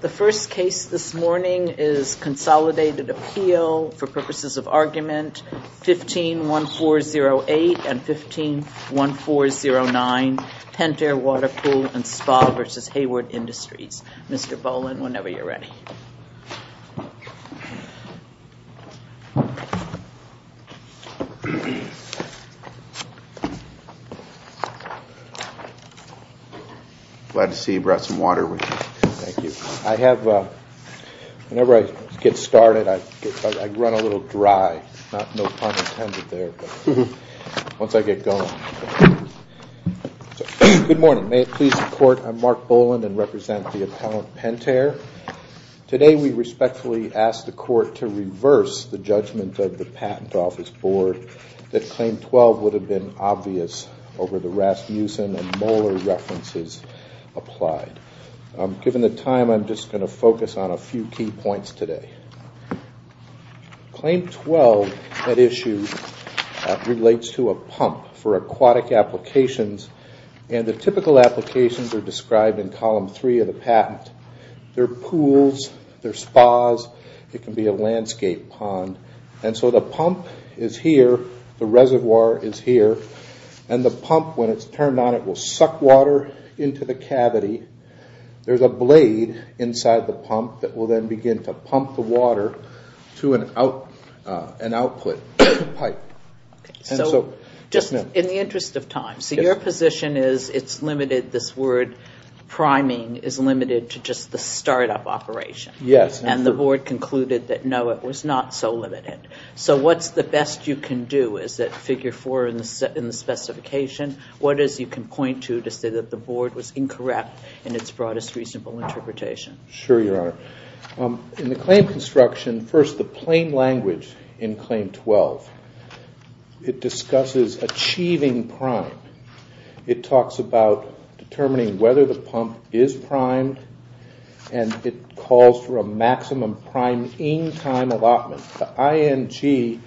The first case this morning is Consolidated Appeal for purposes of Argument 15-1408 and 15-1409, Pentair Water Pool and Spa v. Hayward Industries. Mr. Boland whenever you're ready. Glad to see you brought some water with you. Thank you. I have, whenever I get started I run a little dry, no pun intended there, but once I get going. Good morning. May it please the court, I'm Mark Boland and represent the Appellant Pentair. Today we respectfully ask the court to reverse the judgment of the given the time I'm just going to focus on a few key points today. Claim 12 at issue relates to a pump for aquatic applications and the typical applications are described in column 3 of the patent. They're pools, they're spas, it can be a landscape pond, and so the pump is here, the reservoir is here, and the pump when it's turned on it will suck water into the cavity. There's a blade inside the pump that will then begin to pump the water to an output pipe. So just in the interest of time, so your position is it's limited, this word priming is limited to just the startup operation. Yes. And the board concluded that no it was not so limited. So what's the best you can do? Is it figure four in the specification? What is it you can point to to say that the board was incorrect in its broadest reasonable interpretation? Sure, your honor. In the claim construction, first the plain language in claim 12, it discusses achieving prime. It talks about determining whether the pump is primed and it calls for a maximum prime in time allotment. The ING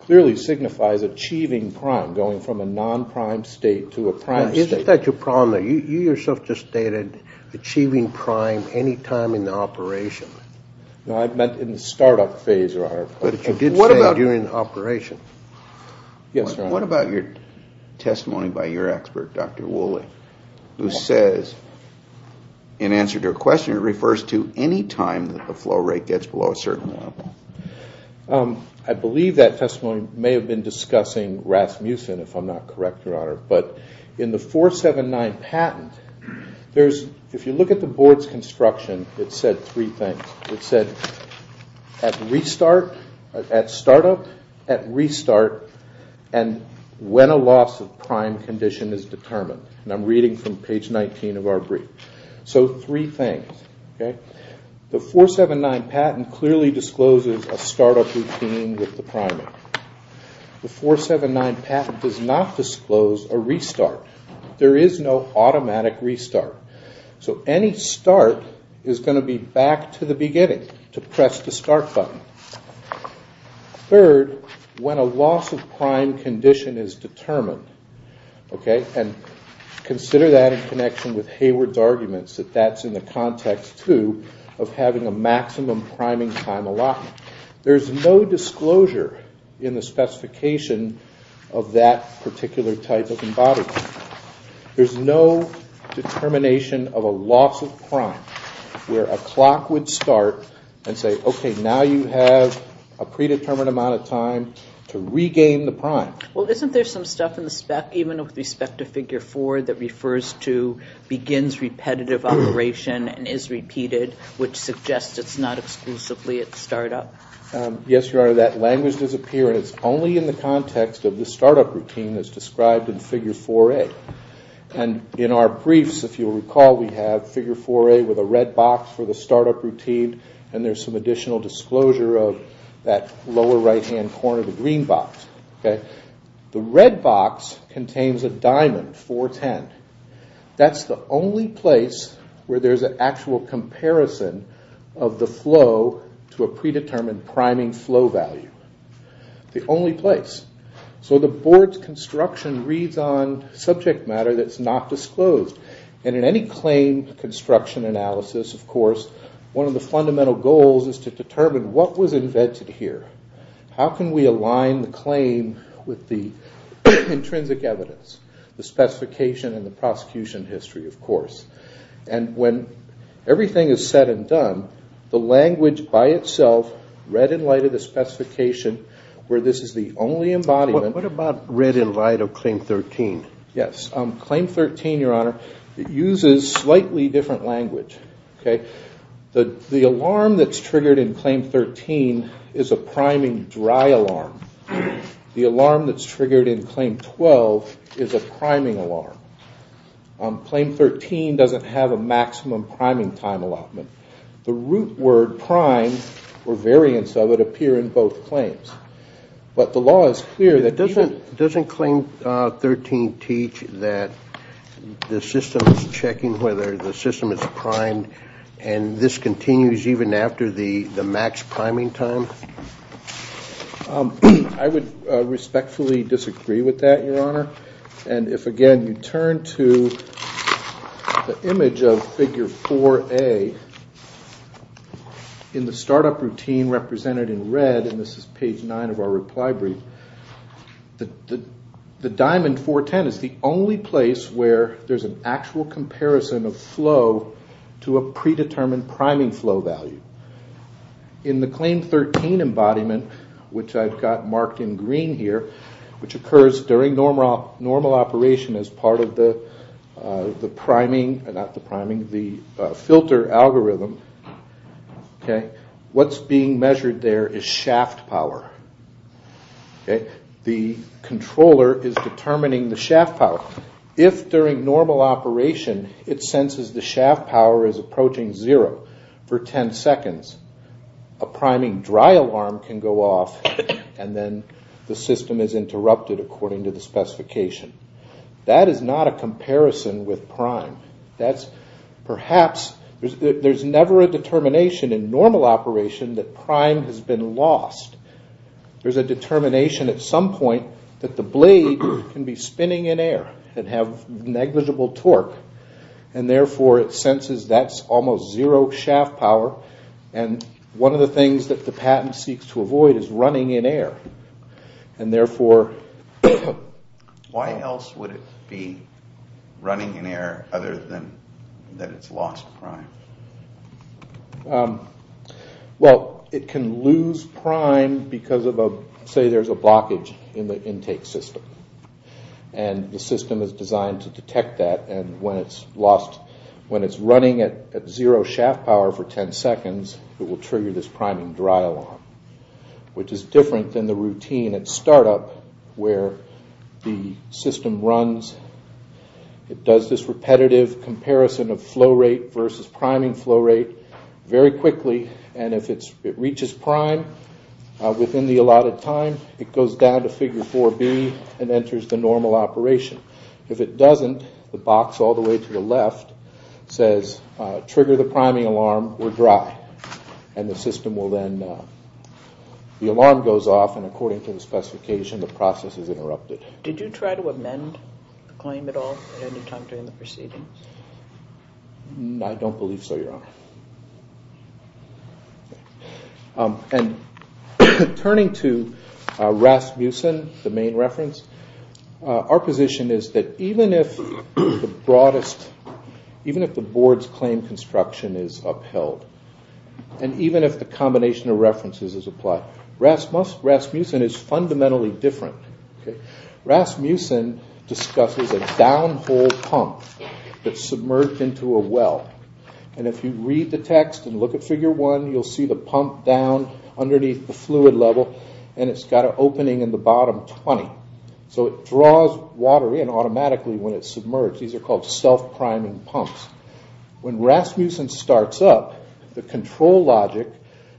clearly signifies achieving prime, going from a non-prime state to a prime state. Is that your problem there? You yourself just stated achieving prime any time in the operation. No, I meant in the startup phase, your honor. But you did say during the operation. Yes, your honor. What about your testimony by your expert, Dr. Woolley, who says in answer to her question, it refers to any time that the flow rate gets below a certain level. I believe that testimony may have been discussing Rasmussen, if I'm not correct, your honor. But in the 479 patent, if you look at the board's construction, it said three things. It said at startup, at restart, and when a loss of prime condition is determined. And I'm reading from page 19 of our brief. So three things. The 479 patent clearly discloses a startup routine with the primer. The 479 patent does not disclose a restart. There is no automatic restart. So any start is going to be back to the beginning, to press the start button. Third, when a loss of prime condition is determined, and consider that in connection with Hayward's arguments that that's in the context, too, of having a maximum priming time allotment. There's no disclosure in the specification of that particular type of embodiment. There's no determination of a loss of prime where a clock would start and say, okay, now you have a predetermined amount of time to regain the prime. Well, isn't there some stuff in the spec, even with respect to figure four, that refers to begins repetitive operation and is repeated, which suggests it's not exclusively at startup? Yes, Your Honor, that language does appear, and it's only in the context of the startup routine that's described in figure 4A. And in our briefs, if you'll recall, we have figure 4A with a red box for the startup routine, and there's some additional disclosure of that lower right-hand corner, the green box. The red box contains a diamond, 410. That's the only place where there's an actual comparison of the flow to a predetermined priming flow value. The only place. So the board's construction reads on subject matter that's not disclosed. And in any claim construction analysis, of course, one of the fundamental goals is to determine what was invented here. How can we align the claim with the intrinsic evidence, the specification and the prosecution history, of course? And when everything is said and done, the language by itself, read in light of the specification, where this is the only embodiment... What about read in light of Claim 13? Yes. Claim 13, Your Honor, uses slightly different language. The alarm that's triggered in Claim 13 is a priming dry alarm. The alarm that's triggered in Claim 12 is a priming alarm. Claim 13 doesn't have a maximum priming time allotment. The root word prime, or variance of it, appear in both claims. But the law is clear that... Doesn't Claim 13 teach that the system is checking whether the system is primed, and this continues even after the max priming time? I would respectfully disagree with that, Your Honor. And if, again, you turn to the image of Figure 4A in the startup routine represented in red, and this is page 9 of our reply brief, the Diamond 410 is the only place where there's an actual comparison of flow to a predetermined priming flow value. In the Claim 13 embodiment, which I've got marked in green here, which occurs during normal operation as part of the filter algorithm, what's being measured there is shaft power. The controller is determining the shaft power. If, during normal operation, it senses the shaft power is approaching zero for 10 seconds, a priming dry alarm can go off, and then the system is interrupted according to the specification. That is not a comparison with prime. There's never a determination in normal operation that prime has been lost. There's a determination at some point that the blade can be spinning in air and have negligible torque, and therefore it senses that's almost zero shaft power, and one of the things that the patent seeks to avoid is running in air. And therefore... Why else would it be running in air other than that it's lost prime? Well, it can lose prime because, say, there's a blockage in the intake system, and the system is designed to detect that, and when it's running at zero shaft power for 10 seconds, it will trigger this priming dry alarm, which is different than the routine at startup where the system runs. It does this repetitive comparison of flow rate versus priming flow rate very quickly, and if it reaches prime within the allotted time, it goes down to figure 4B and enters the normal operation. If it doesn't, the box all the way to the left says, trigger the priming alarm, we're dry, and the system will then... the alarm goes off, and according to the specification, the process is interrupted. Did you try to amend the claim at all at any time during the proceedings? I don't believe so, Your Honor. And turning to Rasmussen, the main reference, our position is that even if the broadest... even if the board's claim construction is upheld, and even if the combination of references is applied, Rasmussen is fundamentally different. Rasmussen discusses a downhole pump that's submerged into a well, and if you read the text and look at figure 1, you'll see the pump down underneath the fluid level, and it's got an opening in the bottom 20. So it draws water in automatically when it's submerged. These are called self-priming pumps. When Rasmussen starts up, the control logic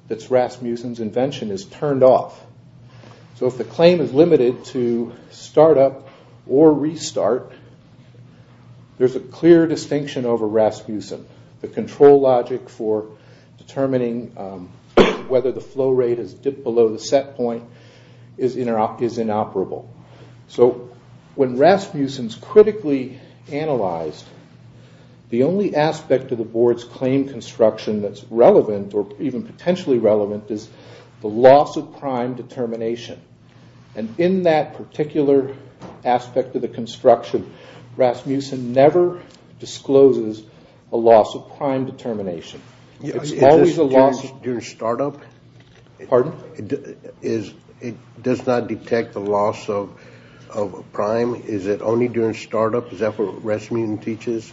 that's Rasmussen's invention is turned off. So if the claim is limited to start up or restart, there's a clear distinction over Rasmussen. The control logic for determining whether the flow rate has dipped below the set point is inoperable. So when Rasmussen's critically analyzed, the only aspect of the board's claim construction that's relevant, or even potentially relevant, is the loss of prime determination. And in that particular aspect of the construction, Rasmussen never discloses a loss of prime determination. Is this during start up? Pardon? It does not detect the loss of prime? Is it only during start up? Is that what Rasmussen teaches?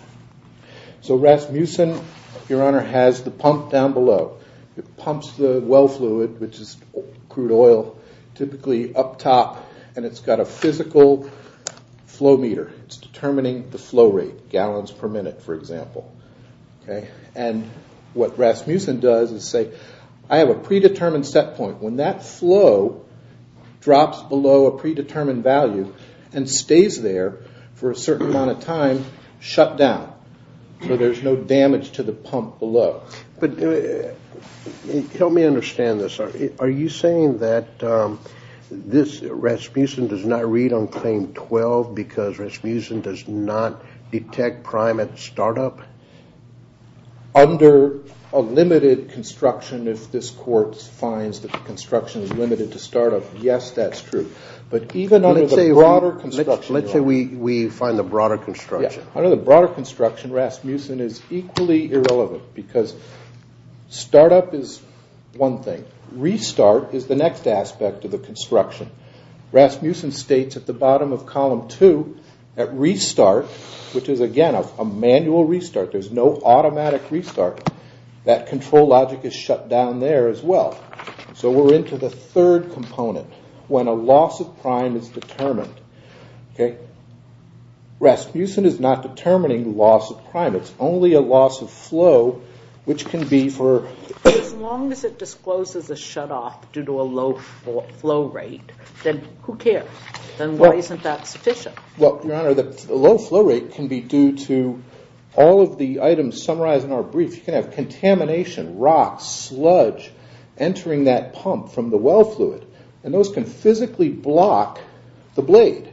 So Rasmussen, Your Honor, has the pump down below. It pumps the well fluid, which is crude oil, typically up top, and it's got a physical flow meter. It's determining the flow rate, gallons per minute, for example. And what Rasmussen does is say, I have a predetermined set point. When that flow drops below a predetermined value and stays there for a certain amount of time, shut down. So there's no damage to the pump below. But help me understand this. Are you saying that Rasmussen does not read on claim 12 because Rasmussen does not detect prime at start up? Under a limited construction, if this court finds that the construction is limited to start up, yes, that's true. Let's say we find the broader construction. Under the broader construction, Rasmussen is equally irrelevant because start up is one thing. Restart is the next aspect of the construction. Rasmussen states at the bottom of column 2, at restart, which is again a manual restart, there's no automatic restart, that control logic is shut down there as well. So we're into the third component, when a loss of prime is determined. Rasmussen is not determining loss of prime. It's only a loss of flow, which can be for... As long as it discloses a shut off due to a low flow rate, then who cares? Then why isn't that sufficient? Well, Your Honor, the low flow rate can be due to all of the items summarized in our brief. You can have contamination, rocks, sludge entering that pump from the well fluid. And those can physically block the blade.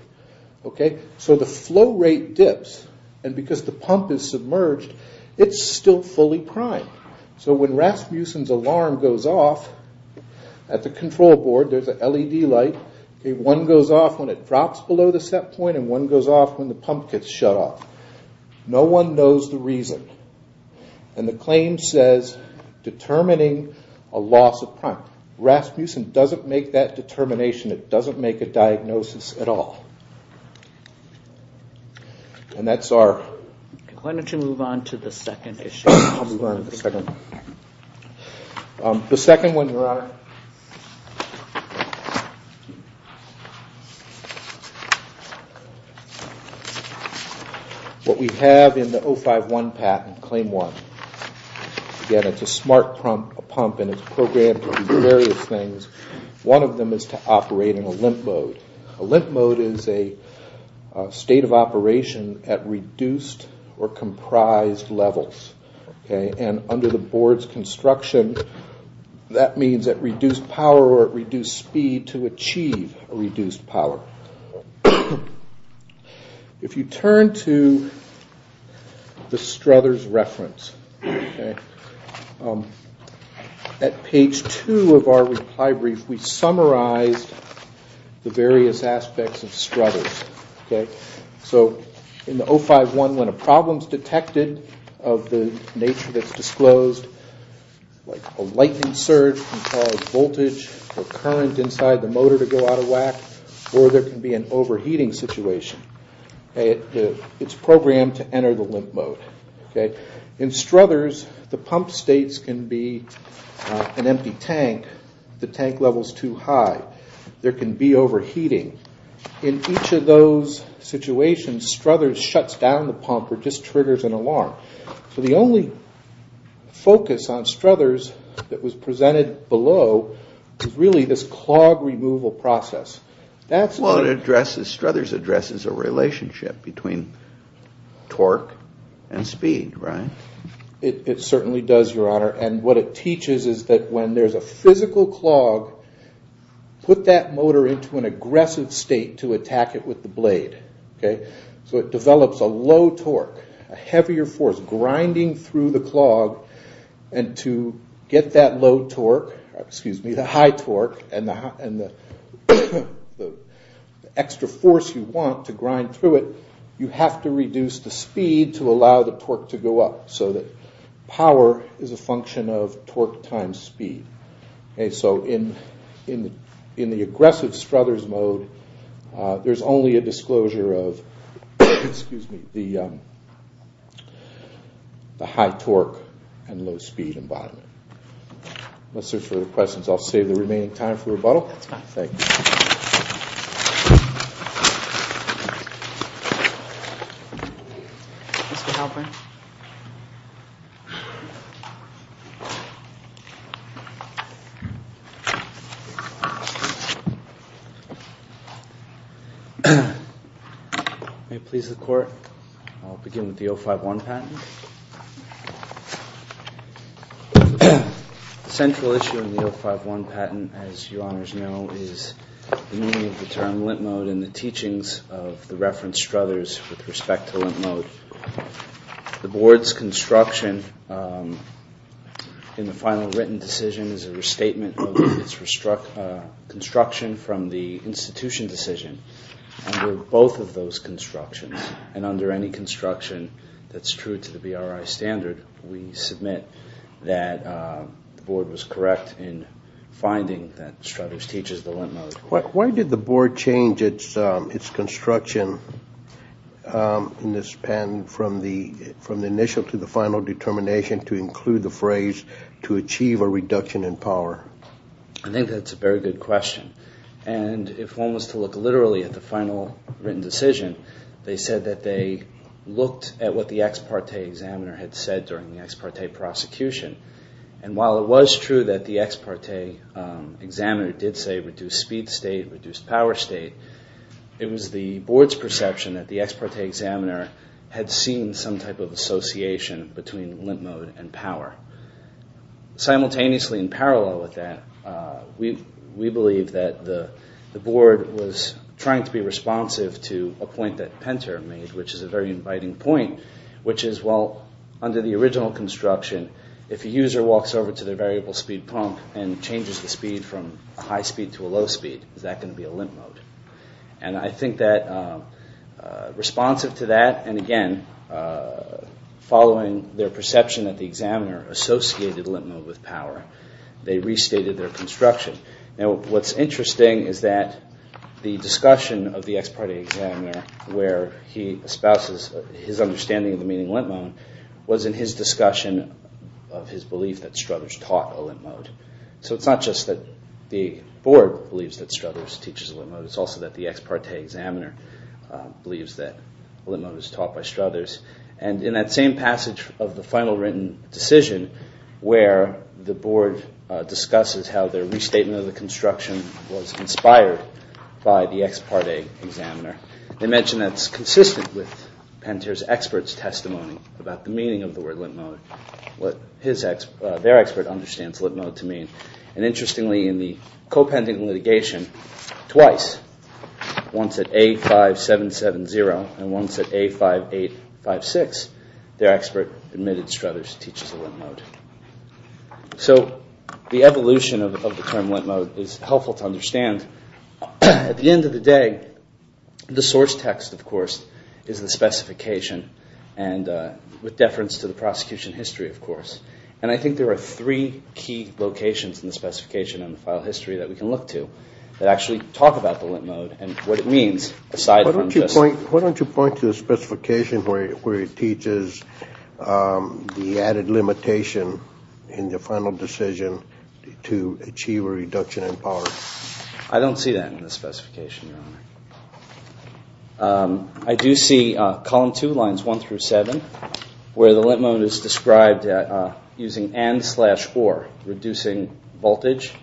So the flow rate dips and because the pump is submerged, it's still fully primed. So when Rasmussen's alarm goes off at the control board, there's an LED light. One goes off when it drops below the set point and one goes off when the pump gets shut off. No one knows the reason. And the claim says determining a loss of prime. Rasmussen doesn't make that determination. It doesn't make a diagnosis at all. And that's our... Why don't you move on to the second issue? I'll move on to the second one. The second one, Your Honor... What we have in the 051 patent, Claim 1. Again, it's a smart pump and it's programmed to do various things. One of them is to operate in a limp mode. A limp mode is a state of operation at reduced or comprised levels. And under the board's construction, that means at reduced power or at reduced speed to achieve reduced power. If you turn to the Struthers reference, at page 2 of our reply brief, we summarized the various aspects of Struthers. So in the 051, when a problem's detected of the nature that's disclosed, like a lightning surge can cause voltage or current inside the motor to go out of whack or there can be an overheating situation, it's programmed to enter the limp mode. In Struthers, the pump states can be an empty tank. The tank level's too high. There can be overheating. In each of those situations, Struthers shuts down the pump or just triggers an alarm. So the only focus on Struthers that was presented below is really this clog removal process. Well, it addresses, Struthers addresses a relationship between torque and speed, right? It certainly does, Your Honor. And what it teaches is that when there's a physical clog, put that motor into an aggressive state to attack it with the blade. So it develops a low torque, a heavier force grinding through the clog, and to get that low torque, excuse me, the high torque and the extra force you want to grind through it, you have to reduce the speed to allow the torque to go up so that power is a function of torque times speed. So in the aggressive Struthers mode, there's only a disclosure of the high torque and low speed embodiment. Unless there's further questions, I'll save the remaining time for rebuttal. Thank you. May it please the Court. I'll begin with the 051 patent. The central issue in the 051 patent, as you honors know, is the meaning of the term limp mode and the teachings of the reference Struthers with respect to limp mode. The board's construction in the final written decision is a restatement of its construction from the institution decision. Under both of those constructions, and under any construction that's true to the BRI standard, we submit that the board was correct in finding that Struthers teaches the limp mode. Why did the board change its construction in this patent from the initial to the final determination to include the phrase to achieve a reduction in power? I think that's a very good question. And if one was to look literally at the final written decision, they said that they looked at what the ex parte examiner had said during the ex parte prosecution. And while it was true that the ex parte examiner did say reduce speed state, reduce power state, it was the board's perception that the ex parte examiner had seen some type of association between limp mode and power. Simultaneously in parallel with that, we believe that the board was trying to be responsive to a point that Penter made, which is a very inviting point, which is, well, under the original construction, if a user walks over to their variable speed pump and changes the speed from a high speed to a low speed, is that going to be a limp mode? And I think that responsive to that, and again, following their perception that the examiner associated limp mode with power, they restated their construction. Now, what's interesting is that the discussion of the ex parte examiner where he espouses his understanding of the meaning of limp mode was in his discussion of his belief that Struthers taught a limp mode. So it's not just that the board believes that Struthers teaches a limp mode. It's also that the ex parte examiner believes that limp mode is taught by Struthers. And in that same passage of the final written decision where the board discusses how their restatement of the construction was inspired by the ex parte examiner, they mention that's consistent with Penter's expert's testimony about the meaning of the word limp mode, what their expert understands limp mode to mean. And interestingly, in the co-pending litigation, twice, once at A5770 and once at A5856, their expert admitted Struthers teaches a limp mode. So the evolution of the term limp mode is helpful to understand. At the end of the day, the source text, of course, is the specification and with deference to the prosecution history, of course. And I think there are three key locations in the specification and the file history that we can look to that actually talk about the limp mode and what it means aside from just... Why don't you point to the specification where it teaches the added limitation in the final decision to achieve a reduction in power? I don't see that in the specification, Your Honor. I do see column two, lines one through seven, where the limp mode is described using and slash or, reducing voltage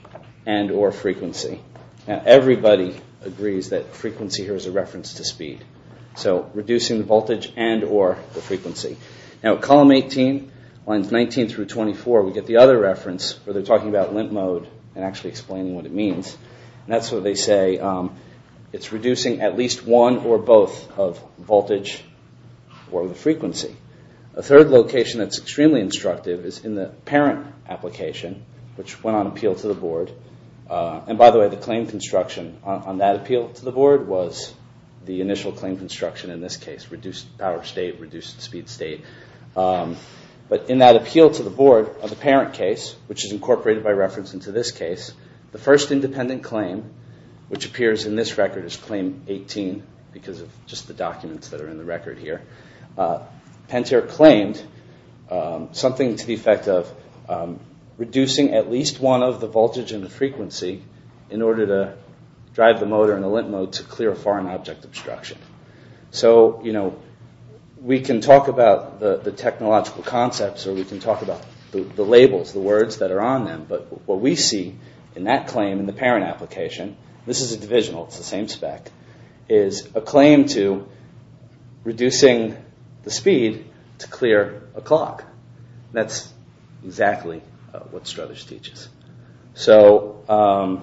and or frequency. Now, everybody agrees that frequency here is a reference to speed. So reducing the voltage and or the frequency. Now, column 18, lines 19 through 24, we get the other reference where they're talking about limp mode and actually explaining what it means. And that's what they say. It's reducing at least one or both of voltage or the frequency. A third location that's extremely instructive is in the parent application, which went on appeal to the board. And by the way, the claim construction on that appeal to the board was the initial claim construction in this case, reduced power state, reduced speed state. But in that appeal to the board of the parent case, which is incorporated by reference into this case, the first independent claim, which appears in this record as claim 18 because of just the documents that are in the record here, Pantera claimed something to the effect of reducing at least one of the voltage and the frequency in order to drive the motor in a limp mode to clear a foreign object obstruction. So, you know, we can talk about the technological concepts or we can talk about the labels, the words that are on them. But what we see in that claim in the parent application, this is a divisional, it's the same spec, is a claim to reducing the speed to clear a clock. That's exactly what Struthers teaches. So,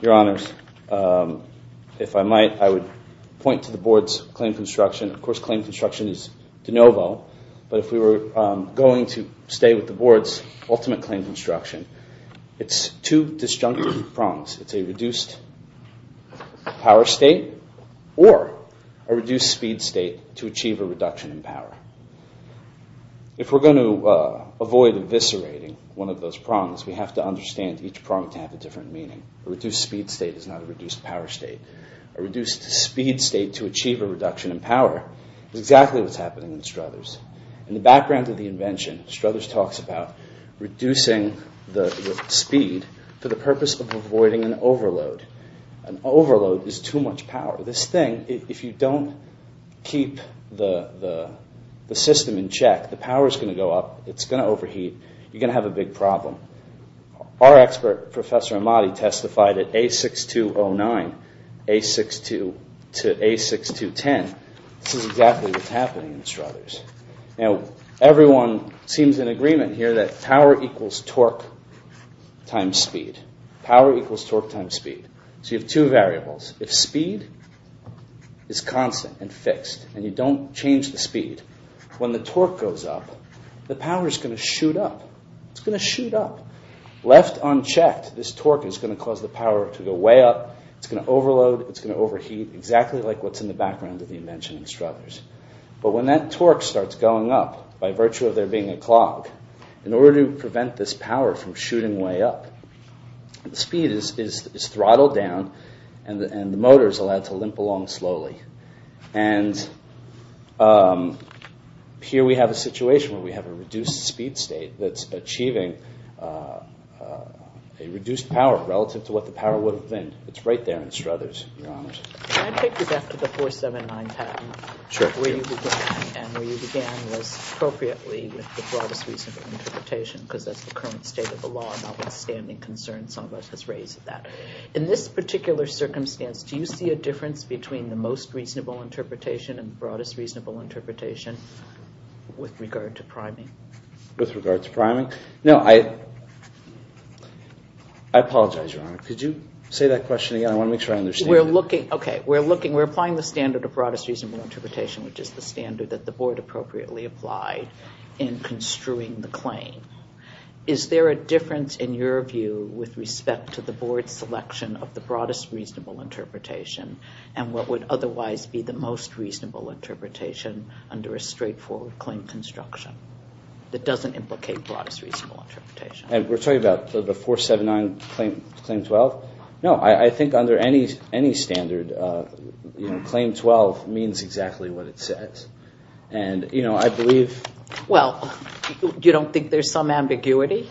your honors, if I might, I would point to the board's claim construction. Of course, claim construction is de novo. But if we were going to stay with the board's ultimate claim construction, it's two disjunctive prongs. It's a reduced power state or a reduced speed state to achieve a reduction in power. If we're going to avoid eviscerating one of those prongs, we have to understand each prong to have a different meaning. A reduced speed state is not a reduced power state. A reduced speed state to achieve a reduction in power is exactly what's happening in Struthers. In the background of the invention, Struthers talks about reducing the speed for the purpose of avoiding an overload. An overload is too much power. This thing, if you don't keep the system in check, the power's going to go up. It's going to overheat. You're going to have a big problem. Our expert, Professor Amati, testified at A6209 to A6210. This is exactly what's happening in Struthers. Now, everyone seems in agreement here that power equals torque times speed. Power equals torque times speed. So you have two variables. If speed is constant and fixed, and you don't change the speed, when the torque goes up, the power's going to shoot up. It's going to shoot up. Left unchecked, this torque is going to cause the power to go way up. It's going to overload. It's going to overheat, exactly like what's in the background of the invention in Struthers. But when that torque starts going up by virtue of there being a clog, in order to prevent this power from shooting way up, the speed is throttled down, and the motor's allowed to limp along slowly. And here we have a situation where we have a reduced speed state that's achieving a reduced power relative to what the power would have been. It's right there in Struthers, Your Honors. Can I take you back to the 479 patent? Sure. Where you began, and where you began was appropriately with the broadest reasonable interpretation, because that's the current state of the law, notwithstanding concerns some of us has raised with that. In this particular circumstance, do you see a difference between the most reasonable interpretation and the broadest reasonable interpretation with regard to priming? With regard to priming? No, I apologize, Your Honor. Could you say that question again? I want to make sure I understand it. We're applying the standard which is the standard that the Board appropriately applied in construing the claim. Is there a difference in your view with respect to the Board's selection of the broadest reasonable interpretation and what would otherwise be the most reasonable interpretation under a straightforward claim construction that doesn't implicate broadest reasonable interpretation? We're talking about the 479 Claim 12? No, I think under any standard, Claim 12 means exactly what it says. And I believe... Well, you don't think there's some ambiguity?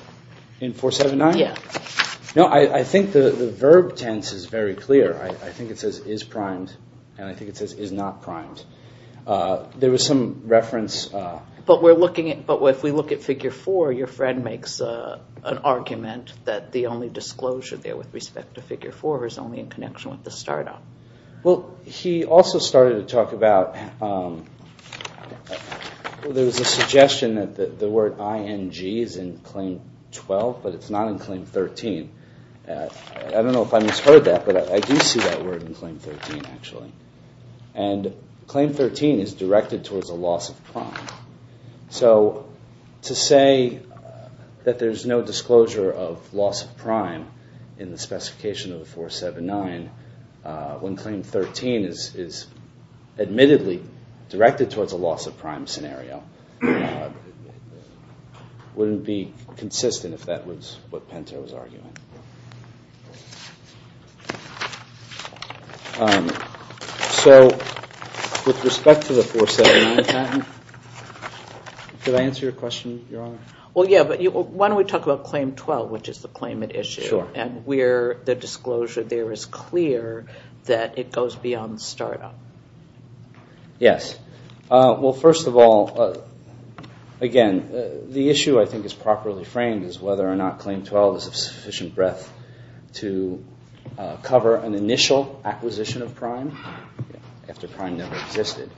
In 479? No, I think the verb tense is very clear. I think it says, is primed, and I think it says, is not primed. There was some reference... But if we look at Figure 4, your friend makes an argument that the only disclosure there with respect to Figure 4 is only in connection with the startup. Well, he also started to talk about... There was a suggestion that the word ING is in Claim 12, but it's not in Claim 13. I don't know if I misheard that, but I do see that word in Claim 13, actually. And Claim 13 is directed towards a loss of prime. So to say that there's no disclosure of loss of prime in the specification of the 479 when Claim 13 is admittedly directed towards a loss of prime scenario wouldn't be consistent if that was what Pinto was arguing. So, with respect to the 479 patent... Did I answer your question, Your Honor? Well, yeah, but why don't we talk about Claim 12, which is the claimant issue, and where the disclosure there is clear that it goes beyond the startup? Yes. Well, first of all, again, the issue I think is properly framed is whether or not Claim 12 is of sufficient breadth to cover an initial acquisition of prime after prime never existed,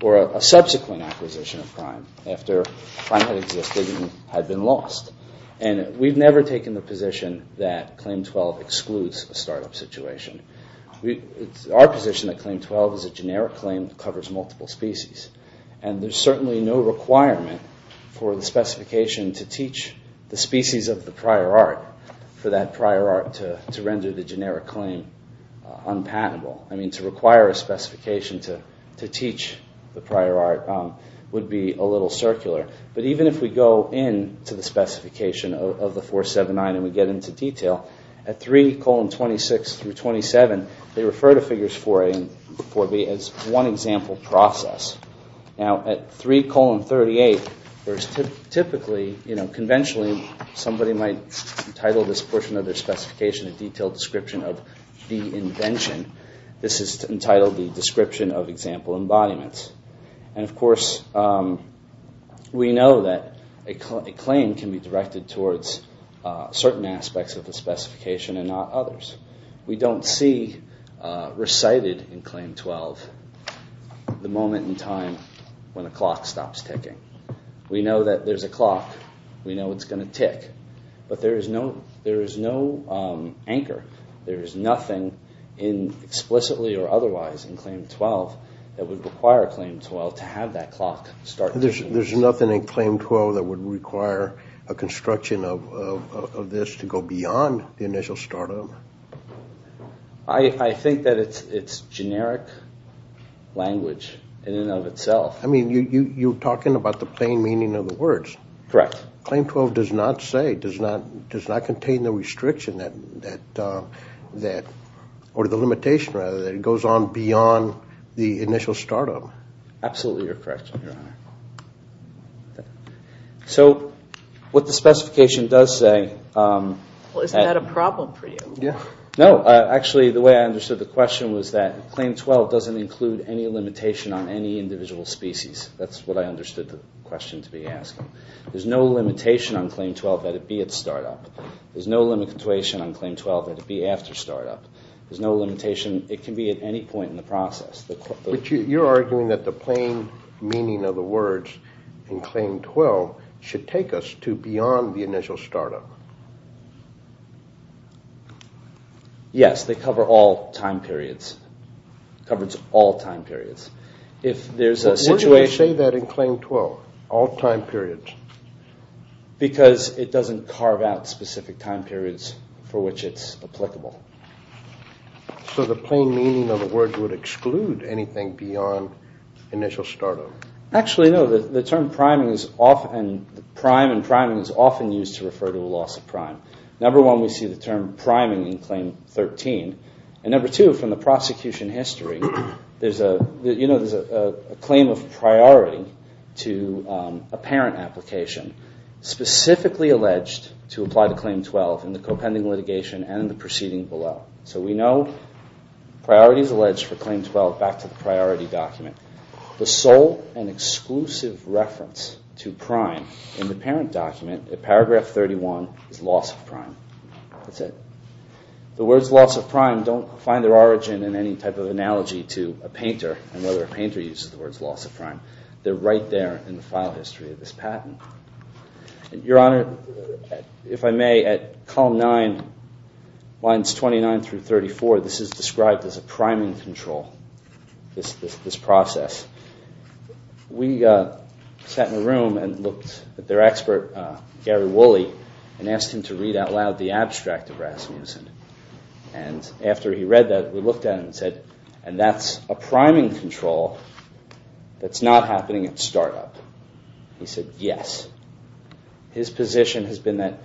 or a subsequent acquisition of prime after prime had existed and had been lost. And we've never taken the position that Claim 12 excludes a startup situation. Our position at Claim 12 is a generic claim that covers multiple species. And there's certainly no requirement for the specification to teach the species of the prior art for that prior art to render the generic claim unpatentable. I mean, to require a specification to teach the prior art would be a little circular. But even if we go in to the specification of the 479 and we get into detail, at 3 colon 26 through 27, they refer to figures 4A and 4B as one example process. Now, at 3 colon 38, there's typically, you know, conventionally, somebody might title this portion of their specification a detailed description of the invention. This is entitled the Description of Example Embodiments. And of course, we know that a claim can be directed towards certain aspects of the specification and not others. We don't see recited in Claim 12 the moment in time when a clock stops ticking. We know that there's a clock. We know it's going to tick. But there is no anchor. There is nothing explicitly or otherwise in Claim 12 that would require a clock in Claim 12 to have that clock start ticking. There's nothing in Claim 12 that would require a construction of this to go beyond the initial start of it? I think that it's generic language in and of itself. I mean, you're talking about the plain meaning of the words. Correct. Claim 12 does not say, does not contain the restriction that, or the limitation, rather, that it goes on beyond the initial startup. Absolutely, you're correct, Your Honor. So, what the specification does say... Well, isn't that a problem for you? No. Actually, the way I understood the question was that Claim 12 doesn't include any limitation on any individual species. That's what I understood the question to be asking. There's no limitation on Claim 12 that it be at startup. There's no limitation on Claim 12 that it be after startup. There's no limitation. It can be at any point in the process. But you're arguing that the plain meaning of the words in Claim 12 should take us to beyond the initial startup. Yes, they cover all time periods. It covers all time periods. If there's a situation... Why do you say that in Claim 12? All time periods? Because it doesn't carve out specific time periods for which it's applicable. So the plain meaning of the words would exclude anything beyond initial startup. Actually, no. The term prime and priming is often used to refer to a loss of prime. Number one, we see the term priming in Claim 13. And number two, from the prosecution history, there's a claim of priority to a parent application specifically alleged to apply to Claim 12 in the co-pending litigation and the proceeding below. So we know priority is alleged for Claim 12. Back to the priority document. The sole and exclusive reference to prime in the parent document at Paragraph 31 is loss of prime. That's it. The words loss of prime don't find their origin in any type of analogy to a painter and whether a painter uses the words loss of prime. They're right there in the file history of this patent. Your Honor, if I may, at Column 9, Lines 29 through 34, this is described as a priming control, this process. We sat in a room and looked at their expert, Gary Woolley, and asked him to read out loud the abstract of Rasmussen. And after he read that, we looked at it and said, and that's a priming control that's not happening at startup. He said, yes. His position has been that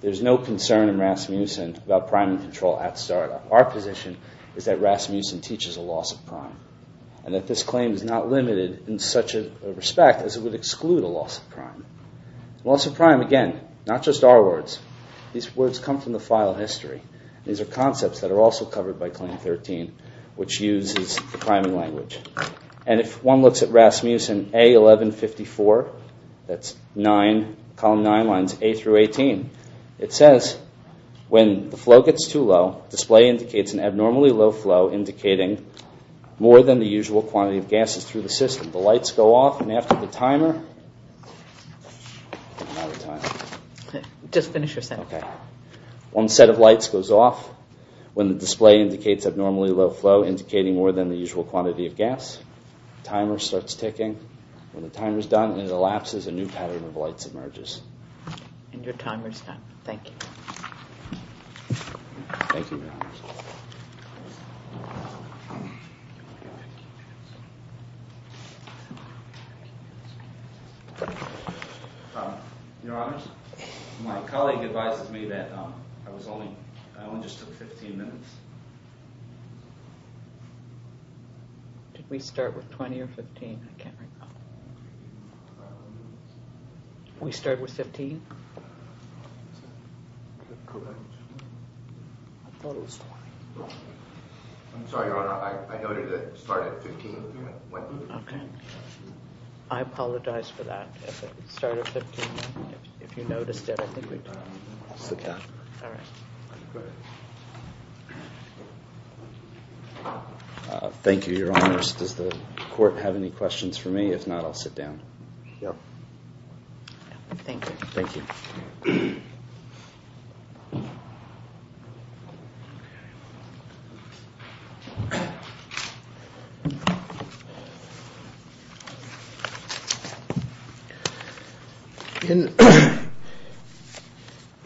there's no concern in Rasmussen about priming control at startup. Our position is that Rasmussen teaches a loss of prime and that this claim is not limited in such a respect as it would exclude a loss of prime. Loss of prime, again, not just our words. These words come from the file history. These are concepts that are also covered by Claim 13 which uses the priming language. And if one looks at Rasmussen A1154, that's Column 9, Lines 8 through 18, it says, when the flow gets too low, display indicates an abnormally low flow indicating more than the usual quantity of gases through the system. The lights go off and after the timer... I'm out of time. Just finish your sentence. One set of lights goes off when the display indicates abnormally low flow indicating more than the usual quantity of gas. Timer starts ticking. When the timer is done, it elapses and a new pattern of lights emerges. And your timer is done. Thank you. Thank you. Your Honors, my colleague advised me that I only just took 15 minutes. Did we start with 20 or 15? I can't remember. We started with 15? I'm sorry, Your Honor. I noted that it started at 15. Okay. I apologize for that. It started at 15. If you noticed it, I think we... Thank you, Your Honors. Does the Court have any questions for me? If not, I'll sit down. Thank you. Thank you.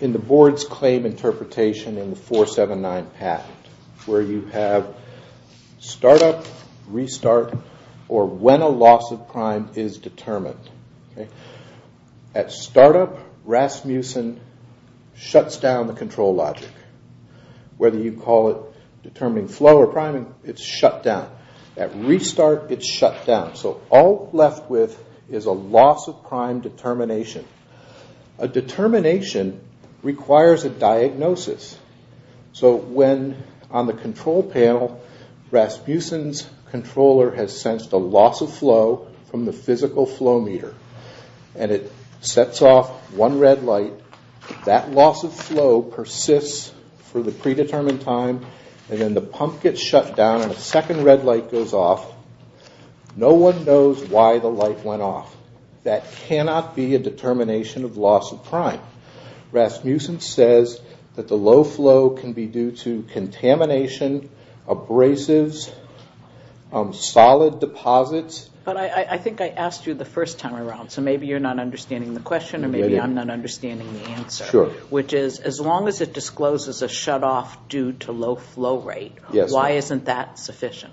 In the board's claim interpretation in the 479 patent where you have start up, restart, or when a loss of prime is determined. At start up, Rasmussen shuts down the control logic. Whether you call it determining flow or priming, it's shut down. At restart, it's shut down. So all left with is a loss of prime determination. A determination requires a diagnosis. So when, on the control panel, somebody has sensed a loss of flow from the physical flow meter and it sets off one red light, that loss of flow persists for the predetermined time and then the pump gets shut down and a second red light goes off. No one knows why the light went off. That cannot be a determination of loss of prime. Rasmussen says that the low flow can be due to contamination, abrasives, solid deposits. But I think I asked you the first time around, so maybe you're not understanding the question or maybe I'm not understanding the answer. Which is, as long as it discloses a shut off due to low flow rate, why isn't that sufficient?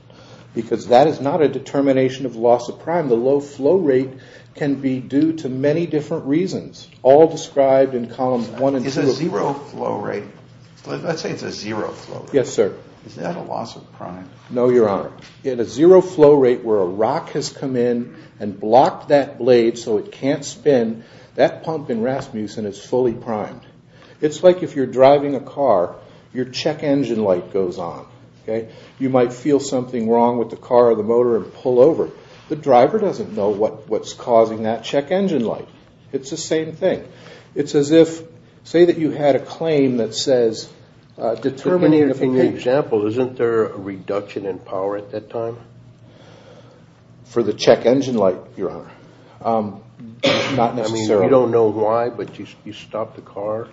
Because that is not a determination of loss of prime. The low flow rate can be due to many different reasons, all described in columns 1 and 2. Is a zero flow rate, let's say it's a zero flow rate. No, Your Honor. In a zero flow rate where a rock has come in and blocked that blade so it can't spin, that pump in Rasmussen is fully primed. It's like if you're driving a car, your check engine light goes on. You might feel something wrong with the car or the motor and pull over. The driver doesn't know what's causing that check engine light. It's the same thing. Does it have power at that time? For the check engine light, Your Honor. I mean, you don't know why, but you stop the car.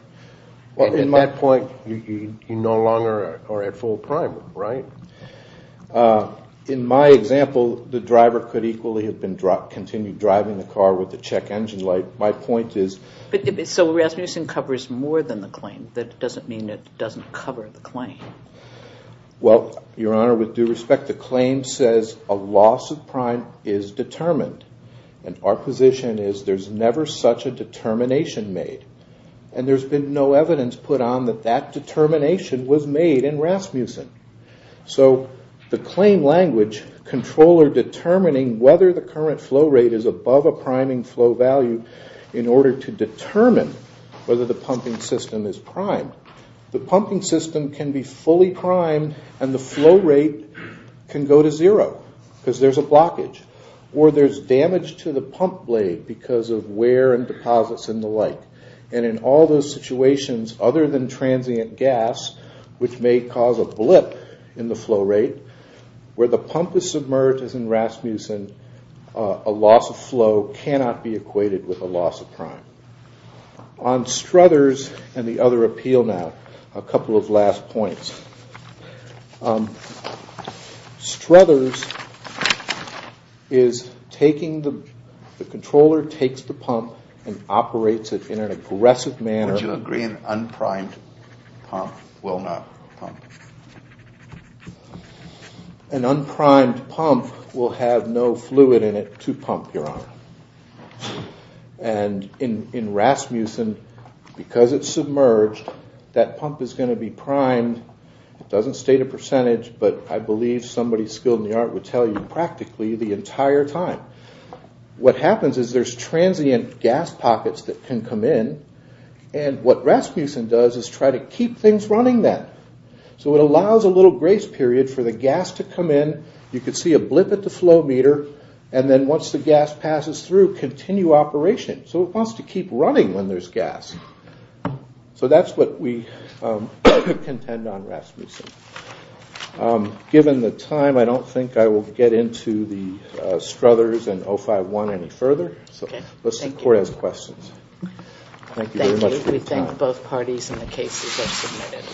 At that point, you no longer are at full prime. Right? In my example, the driver could equally have continued driving the car with the check engine light. My point is... So Rasmussen covers more than the claim. That doesn't mean it doesn't cover the claim. In fact, the claim says a loss of prime is determined. And our position is there's never such a determination made. And there's been no evidence put on that that determination was made in Rasmussen. So the claim language, controller determining whether the current flow rate is above a priming flow value in order to determine whether the pumping system is primed. The pumping system can be fully primed and the flow rate can go to zero because there's a blockage. Or there's damage to the pump blade because of wear and deposits and the like. And in all those situations, other than transient gas, which may cause a blip in the flow rate, where the pump is submerged as in Rasmussen, a loss of flow cannot be equated with a loss of prime. On Struthers and the other appeal now, a couple of last points. Struthers is taking the, the controller takes the pump and operates it in an aggressive manner. Would you agree an unprimed pump will not pump? An unprimed pump will have no fluid in it to pump, Your Honor. And in Rasmussen, because it's submerged, that pump is going to be primed. It doesn't state a percentage, but I believe somebody skilled in the art would tell you practically the entire time. What happens is there's transient gas pockets that can come in. And what Rasmussen does is try to keep things running then. So it allows a little grace period for the gas to come in. You can see a blip at the flow meter. And then once the gas passes through, continue operation. So it wants to keep running when there's gas. So that's what we contend on Rasmussen. Given the time, I don't think I will get into the Struthers and 051 any further. So let's see if the Court has questions. Thank you very much for your time. Thank you. We thank both parties and the cases that submitted.